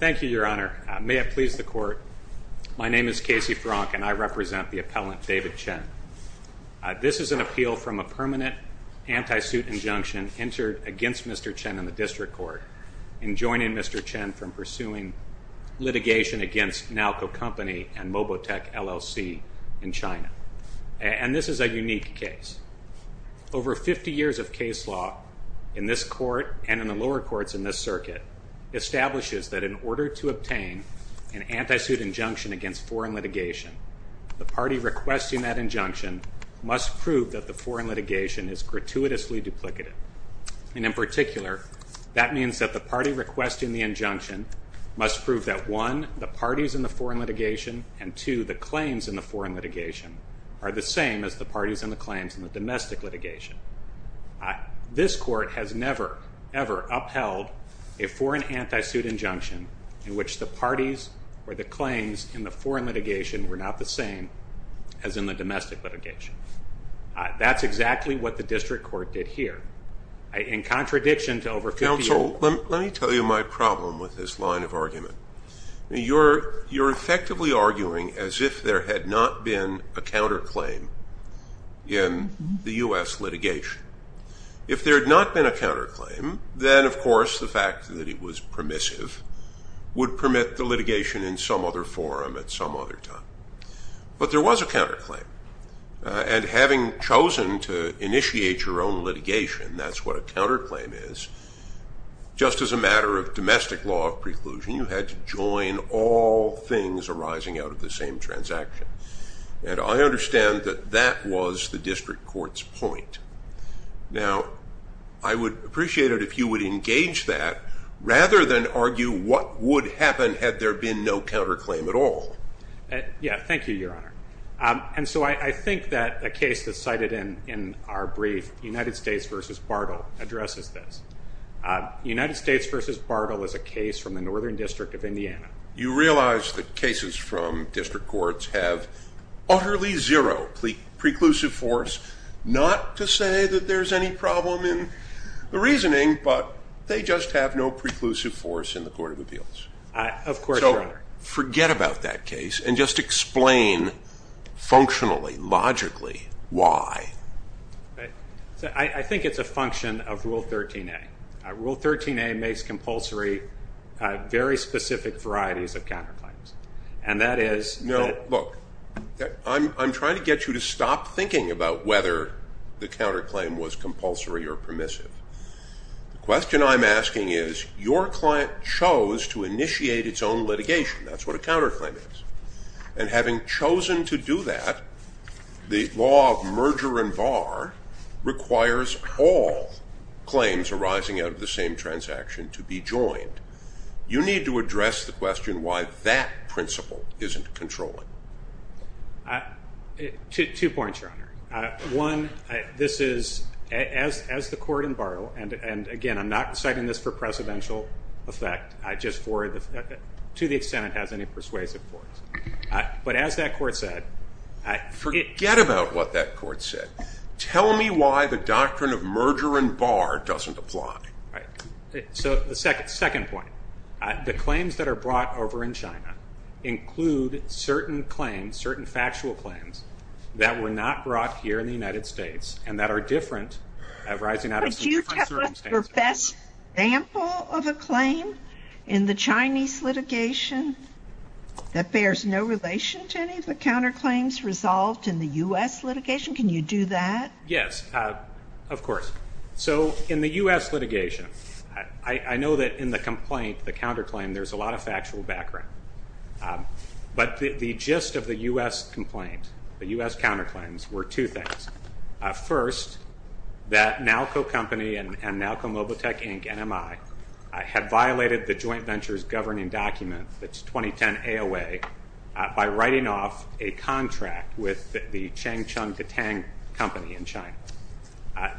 Thank you, Your Honor. May it please the Court, my name is Casey Fronk and I represent the appellant David Chen. This is an appeal from a permanent anti-suit injunction entered against Mr. Chen in the District Court in joining Mr. Chen from pursuing litigation against Nalco Company and Mobotech LLC in China. And this is a unique case. Over 50 years of case law in this Court and in the lower courts in this circuit establishes that in order to obtain an anti-suit injunction against foreign litigation, the party requesting that injunction must prove that the foreign litigation is gratuitously duplicative. And in particular, that means that the party requesting the injunction must prove that, one, the parties in the foreign litigation and, two, the claims in the foreign litigation are the same as the parties in the claims in the domestic litigation. This Court has never, ever upheld a foreign anti-suit injunction in which the parties or the claims in the foreign litigation were not the same as in the domestic litigation. That's exactly what the District Court did here. In contradiction to over 50 years… So let me tell you my problem with this line of argument. You're effectively arguing as if there had not been a counterclaim in the U.S. litigation. If there had not been a counterclaim, then, of course, the fact that it was permissive would permit the litigation in some other forum at some other time. But there was a counterclaim, and having chosen to initiate your own litigation, that's what a counterclaim is, just as a matter of domestic law of preclusion, you had to join all things arising out of the same transaction. And I understand that that was the District Court's point. Now, I would appreciate it if you would engage that rather than argue what would happen had there been no counterclaim at all. Yeah, thank you, Your Honor. And so I think that a case that's cited in our brief, United States v. Bartle, addresses this. United States v. Bartle is a case from the Northern District of Indiana. You realize that cases from District Courts have utterly zero preclusive force, not to say that there's any problem in the reasoning, but they just have no preclusive force in the Court of Appeals. Of course, Your Honor. Forget about that case and just explain functionally, logically, why. I think it's a function of Rule 13a. Rule 13a makes compulsory very specific varieties of counterclaims, and that is that- No, look, I'm trying to get you to stop thinking about whether the counterclaim was compulsory or permissive. The question I'm asking is your client chose to initiate its own litigation. That's what a counterclaim is. And having chosen to do that, the law of merger and bar requires all claims arising out of the same transaction to be joined. You need to address the question why that principle isn't controlling. Two points, Your Honor. One, this is, as the court in Bartle, and, again, I'm not citing this for precedential effect, just to the extent it has any persuasive force. But as that court said- Forget about what that court said. Tell me why the doctrine of merger and bar doesn't apply. All right. So the second point, the claims that are brought over in China include certain claims, certain factual claims that were not brought here in the United States and that are different arising out of different circumstances. Could you tell us the best example of a claim in the Chinese litigation that bears no relation to any of the counterclaims resolved in the U.S. litigation? Can you do that? Yes, of course. So in the U.S. litigation, I know that in the complaint, the counterclaim, there's a lot of factual background. But the gist of the U.S. complaint, the U.S. counterclaims, were two things. First, that Nalco Company and Nalco Mobile Tech Inc., NMI, had violated the joint ventures governing document, that's 2010 AOA, by writing off a contract with the Changcheng Detang Company in China.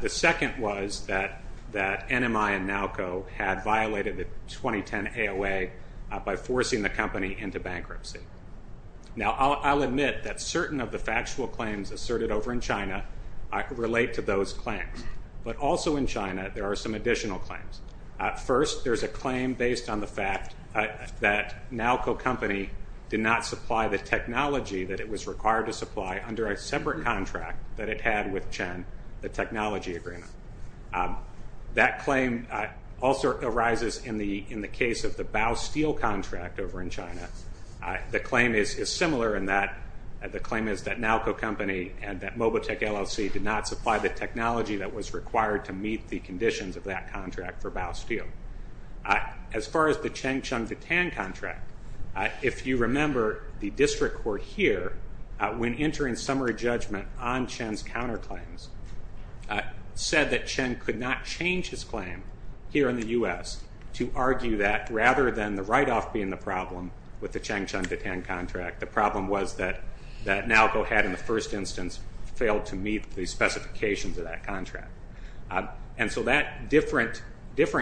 The second was that NMI and Nalco had violated the 2010 AOA by forcing the company into bankruptcy. Now, I'll admit that certain of the factual claims asserted over in China relate to those claims. But also in China, there are some additional claims. First, there's a claim based on the fact that Nalco Company did not supply the technology that it was required to supply under a separate contract that it had with Chang, the technology agreement. That claim also arises in the case of the Baosteel contract over in China. The claim is similar in that the claim is that Nalco Company and that Mobile Tech LLC did not supply the technology that was required to meet the conditions of that contract for Baosteel. As far as the Changcheng Detang contract, if you remember, the district court here, when entering summary judgment on Chang's counterclaims, said that Chang could not change his claim here in the U.S. to argue that rather than the write-off being the problem with the Changcheng Detang contract, the problem was that Nalco had in the first instance failed to meet the specifications of that contract. And so that different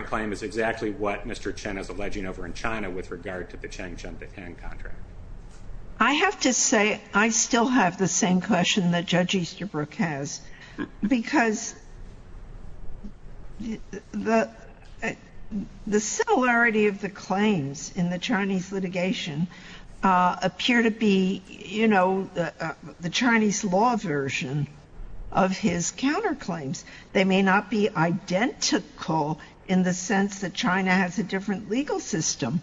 claim is exactly what Mr. Chen is alleging over in China with regard to the Changcheng Detang contract. I have to say I still have the same question that Judge Easterbrook has, because the similarity of the claims in the Chinese litigation appear to be the Chinese law version of his counterclaims. They may not be identical in the sense that China has a different legal system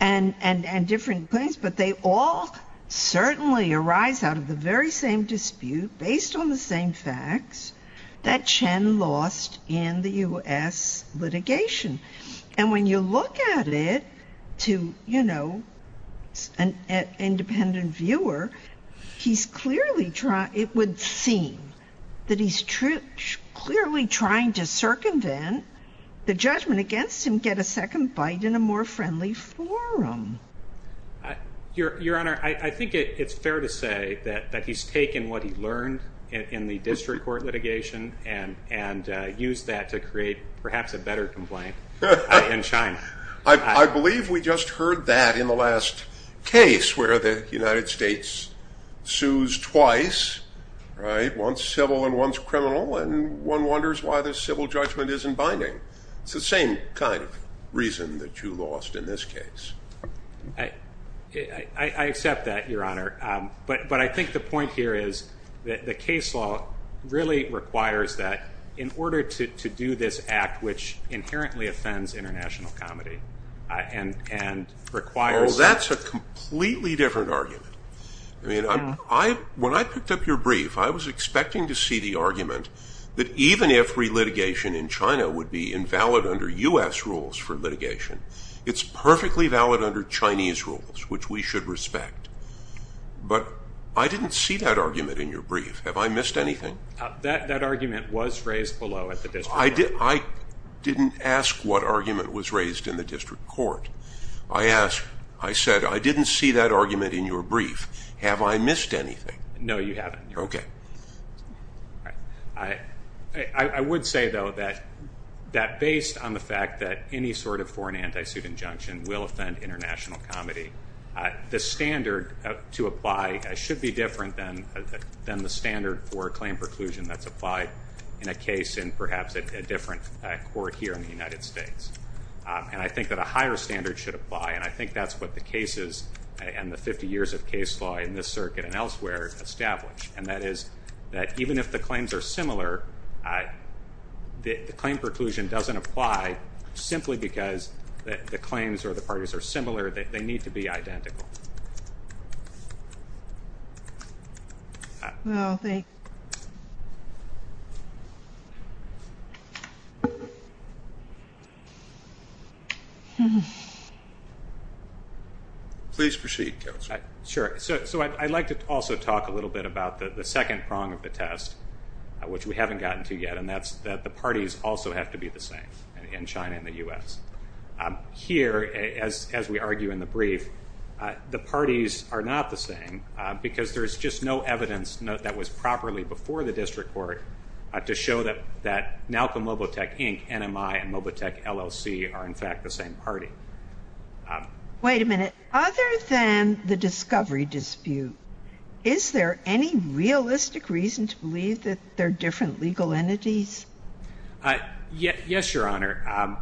and different claims, but they all certainly arise out of the very same dispute based on the same facts that Chen lost in the U.S. litigation. And when you look at it to an independent viewer, it would seem that he's clearly trying to circumvent the judgment against him, get a second bite in a more friendly forum. Your Honor, I think it's fair to say that he's taken what he learned in the district court litigation and used that to create perhaps a better complaint in China. I believe we just heard that in the last case where the United States sues twice, once civil and once criminal, and one wonders why the civil judgment isn't binding. It's the same kind of reason that you lost in this case. I accept that, Your Honor. But I think the point here is that the case law really requires that in order to do this act, which inherently offends international comedy and requires... Oh, that's a completely different argument. When I picked up your brief, I was expecting to see the argument that even if relitigation in China would be invalid under U.S. rules for litigation, it's perfectly valid under Chinese rules, which we should respect. But I didn't see that argument in your brief. Have I missed anything? That argument was raised below at the district court. I didn't ask what argument was raised in the district court. I said, I didn't see that argument in your brief. Have I missed anything? No, you haven't. Okay. I would say, though, that based on the fact that any sort of foreign anti-suit injunction will offend international comedy, the standard to apply should be different than the standard for claim preclusion that's applied in a case in perhaps a different court here in the United States. And I think that a higher standard should apply, and I think that's what the cases and the 50 years of case law in this circuit and elsewhere establish, and that is that even if the claims are similar, the claim preclusion doesn't apply simply because the claims or the parties are similar. They need to be identical. Please proceed, Counselor. Sure. So I'd like to also talk a little bit about the second prong of the test, which we haven't gotten to yet, and that's that the parties also have to be the same in China and the U.S. Here, as we argue in the brief, the parties are not the same, because there's just no evidence that was properly before the district court to show that Malcolm Lobotech, Inc., NMI, and Lobotech, LLC are, in fact, the same party. Wait a minute. Other than the discovery dispute, is there any realistic reason to believe that they're different legal entities? Yes, Your Honor.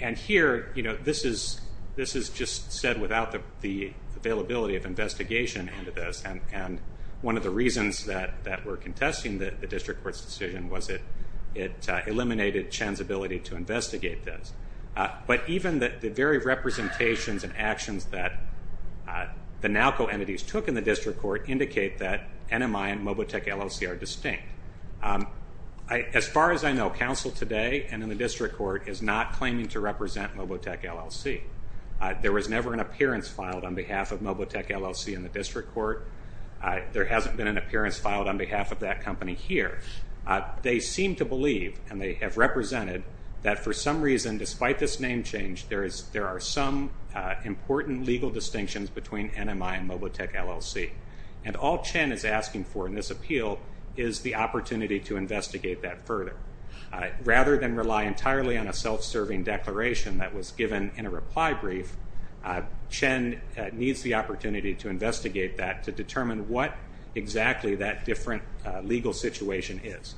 And here, you know, this is just said without the availability of investigation into this, and one of the reasons that we're contesting the district court's decision was it eliminated Chen's ability to investigate this. But even the very representations and actions that the NALCO entities took in the district court indicate that NMI and Lobotech, LLC are distinct. As far as I know, counsel today and in the district court is not claiming to represent Lobotech, LLC. There was never an appearance filed on behalf of Lobotech, LLC in the district court. There hasn't been an appearance filed on behalf of that company here. They seem to believe, and they have represented, that for some reason, despite this name change, there are some important legal distinctions between NMI and Lobotech, LLC. And all Chen is asking for in this appeal is the opportunity to investigate that further. Rather than rely entirely on a self-serving declaration that was given in a reply brief, Chen needs the opportunity to investigate that to determine what exactly that different legal situation is.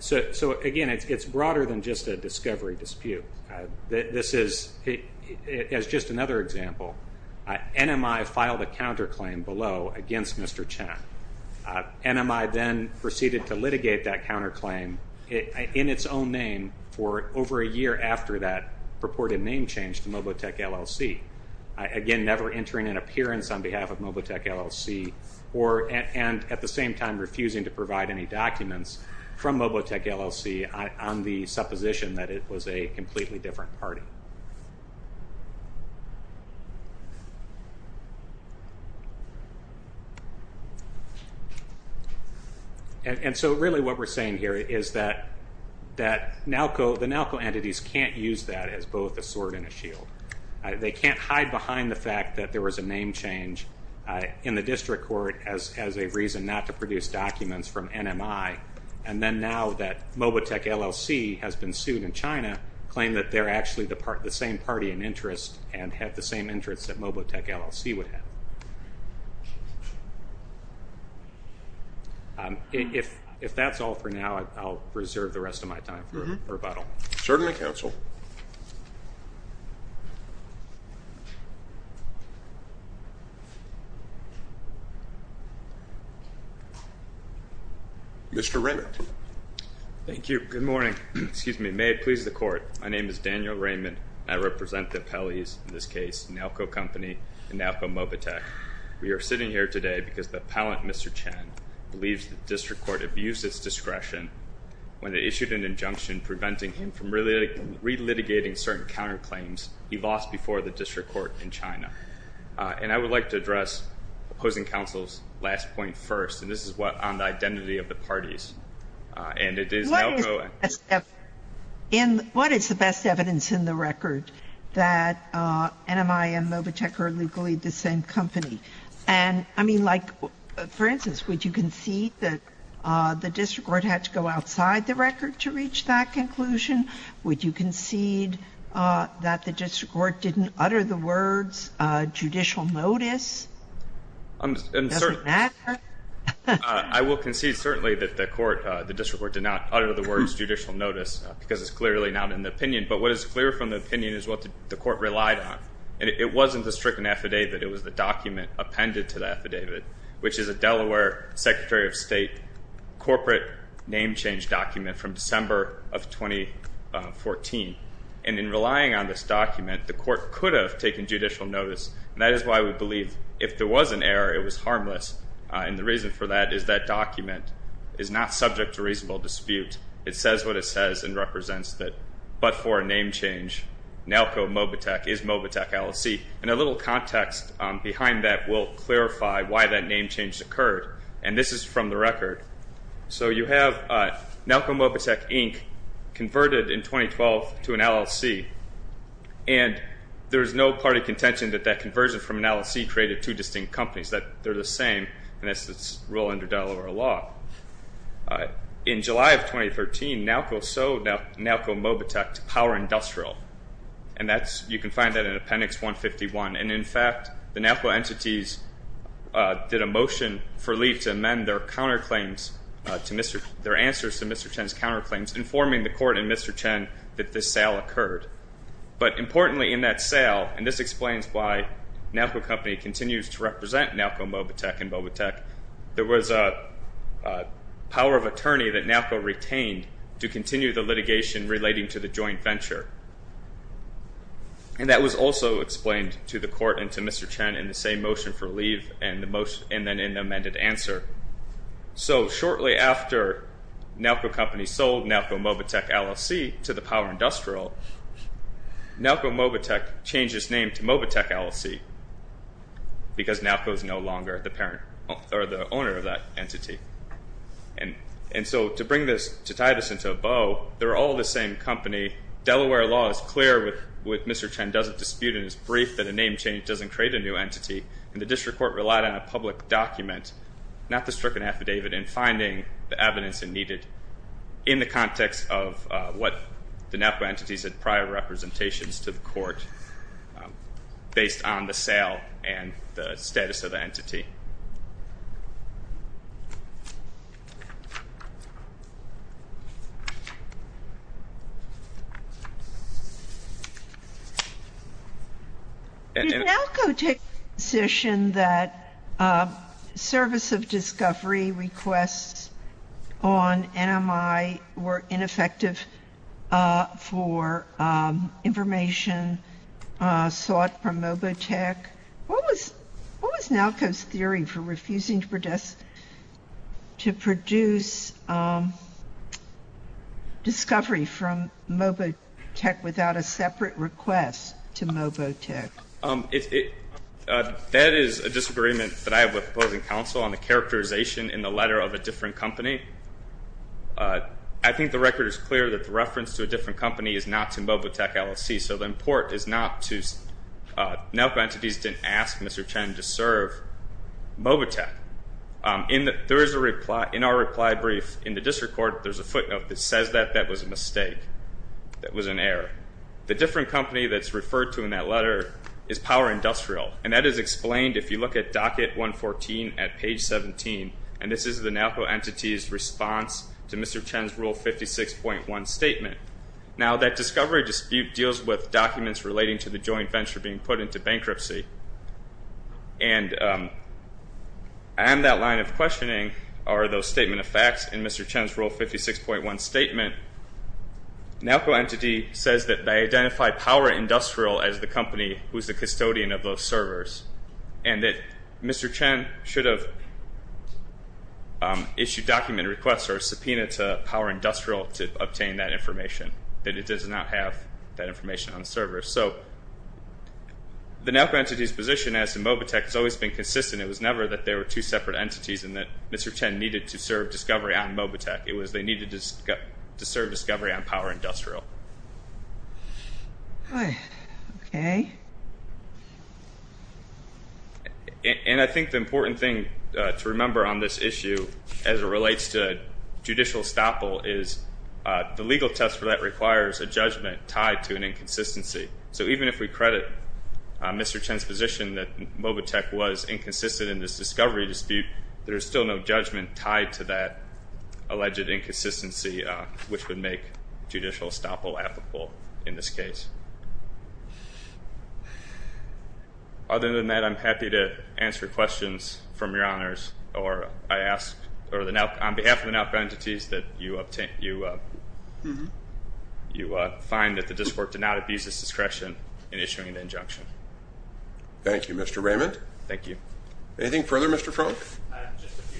So, again, it's broader than just a discovery dispute. This is just another example. NMI filed a counterclaim below against Mr. Chen. NMI then proceeded to litigate that counterclaim in its own name for over a year after that purported name change to Lobotech, LLC. Again, never entering an appearance on behalf of Lobotech, LLC, and at the same time refusing to provide any documents from Lobotech, LLC on the supposition that it was a completely different party. And so really what we're saying here is that the NALCO entities can't use that as both a sword and a shield. They can't hide behind the fact that there was a name change in the district court as a reason not to produce documents from NMI, and then now that Lobotech, LLC has been sued in China, claim that they're actually the same party in interest and have the same interests that Lobotech, LLC would have. If that's all for now, I'll reserve the rest of my time for rebuttal. Certainly, counsel. Thank you. Mr. Raymond. Thank you. Good morning. Excuse me. May it please the court. My name is Daniel Raymond. I represent the appellees in this case, NALCO Company and NALCO Mobotech. We are sitting here today because the appellant, Mr. Chen, believes the district court abused its discretion when it issued an injunction preventing him from relitigating certain counterclaims he lost before the district court in China. And I would like to address opposing counsel's last point first, and this is on the identity of the parties. What is the best evidence in the record that NMI and Mobotech are legally the same company? And, I mean, like, for instance, would you concede that the district court had to go outside the record to reach that conclusion? Would you concede that the district court didn't utter the words judicial notice? I will concede certainly that the court, the district court, did not utter the words judicial notice because it's clearly not in the opinion. But what is clear from the opinion is what the court relied on. And it wasn't the stricken affidavit, it was the document appended to the affidavit, which is a Delaware Secretary of State corporate name change document from December of 2014. And in relying on this document, the court could have taken judicial notice. And that is why we believe if there was an error, it was harmless. And the reason for that is that document is not subject to reasonable dispute. It says what it says and represents that, but for a name change, NALCO Mobotech is Mobotech LLC. And a little context behind that will clarify why that name change occurred. And this is from the record. So you have NALCO Mobotech Inc. converted in 2012 to an LLC. And there is no party contention that that conversion from an LLC created two distinct companies, that they're the same. And that's the rule under Delaware law. In July of 2013, NALCO sold NALCO Mobotech to Power Industrial. And you can find that in Appendix 151. And, in fact, the NALCO entities did a motion for leave to amend their counterclaims, their answers to Mr. Chen's counterclaims, informing the court and Mr. Chen that this sale occurred. But importantly in that sale, and this explains why NALCO Company continues to represent NALCO Mobotech and Mobotech, there was a power of attorney that NALCO retained to continue the litigation relating to the joint venture. And that was also explained to the court and to Mr. Chen in the same motion for leave and then in the amended answer. So shortly after NALCO Company sold NALCO Mobotech LLC to the Power Industrial, NALCO Mobotech changed its name to Mobotech LLC because NALCO is no longer the parent or the owner of that entity. And so to bring this, to tie this into a bow, they're all the same company. Delaware law is clear with Mr. Chen doesn't dispute in his brief that a name change doesn't create a new entity. And the district court relied on a public document, not the stricken affidavit, in finding the evidence needed in the context of what the NALCO entities had prior representations to the court based on the sale and the status of the entity. Did NALCO take the position that service of discovery requests on NMI were ineffective for information sought from Mobotech? What was NALCO's theory for refusing to produce discovery from Mobotech without a separate request to Mobotech? That is a disagreement that I have with opposing counsel on the characterization in the letter of a different company. I think the record is clear that the reference to a different company is not to Mobotech LLC. So the import is not to, NALCO entities didn't ask Mr. Chen to serve Mobotech. In our reply brief in the district court, there's a footnote that says that that was a mistake, that was an error. The different company that's referred to in that letter is Power Industrial. And that is explained if you look at docket 114 at page 17. And this is the NALCO entity's response to Mr. Chen's rule 56.1 statement. Now, that discovery dispute deals with documents relating to the joint venture being put into bankruptcy. And on that line of questioning are those statement of facts in Mr. Chen's rule 56.1 statement. NALCO entity says that they identify Power Industrial as the company who's the custodian of those servers. And that Mr. Chen should have issued document requests or subpoena to Power Industrial to obtain that information. That it does not have that information on the server. So the NALCO entity's position as to Mobotech has always been consistent. It was never that there were two separate entities and that Mr. Chen needed to serve discovery on Mobotech. It was they needed to serve discovery on Power Industrial. All right. Okay. And I think the important thing to remember on this issue as it relates to judicial estoppel is the legal test for that requires a judgment tied to an inconsistency. So even if we credit Mr. Chen's position that Mobotech was inconsistent in this discovery dispute, there's still no judgment tied to that alleged inconsistency which would make judicial estoppel applicable in this case. Other than that, I'm happy to answer questions from your honors. Or I ask on behalf of the NALCO entities that you find that the district did not abuse its discretion in issuing the injunction. Thank you, Mr. Raymond. Thank you. Anything further, Mr. Frunk? Just a few.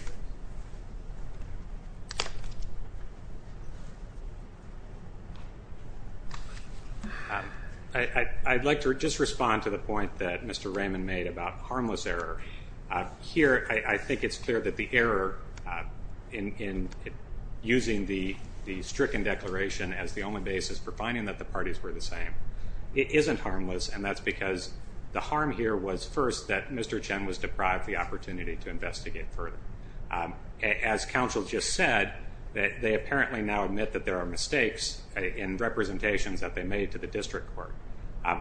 I'd like to just respond to the point that Mr. Raymond made about harmless error. Here I think it's clear that the error in using the stricken declaration as the only basis for finding that the parties were the same, it isn't harmless, and that's because the harm here was first that Mr. Chen was deprived the opportunity to investigate further. As counsel just said, they apparently now admit that there are mistakes in representations that they made to the district court.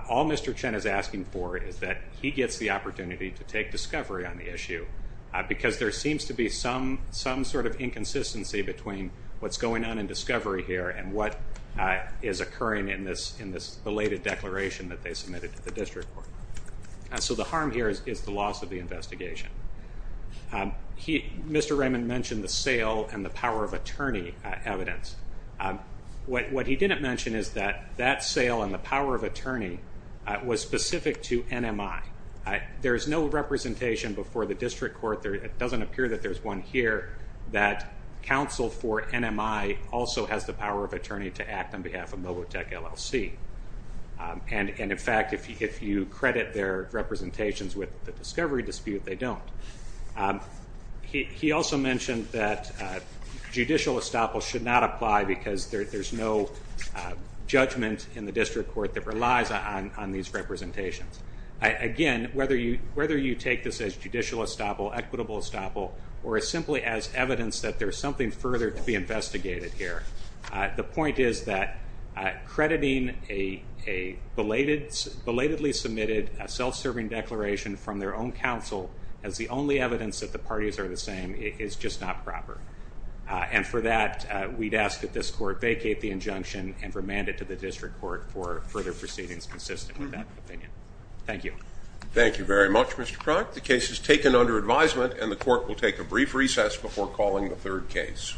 All Mr. Chen is asking for is that he gets the opportunity to take discovery on the issue because there seems to be some sort of inconsistency between what's going on in discovery here and what is occurring in this belated declaration that they submitted to the district court. So the harm here is the loss of the investigation. Mr. Raymond mentioned the sale and the power of attorney evidence. What he didn't mention is that that sale and the power of attorney was specific to NMI. There's no representation before the district court. It doesn't appear that there's one here that counsel for NMI also has the power of attorney to act on behalf of Mobotech LLC. In fact, if you credit their representations with the discovery dispute, they don't. He also mentioned that judicial estoppel should not apply because there's no judgment in the district court that relies on these representations. Again, whether you take this as judicial estoppel, equitable estoppel, or simply as evidence that there's something further to be investigated here, the point is that crediting a belatedly submitted self-serving declaration from their own counsel as the only evidence that the parties are the same is just not proper. And for that, we'd ask that this court vacate the injunction and remand it to the district court for further proceedings consistent with that opinion. Thank you. Thank you very much, Mr. Cronk. The case is taken under advisement, and the court will take a brief recess before calling the third case.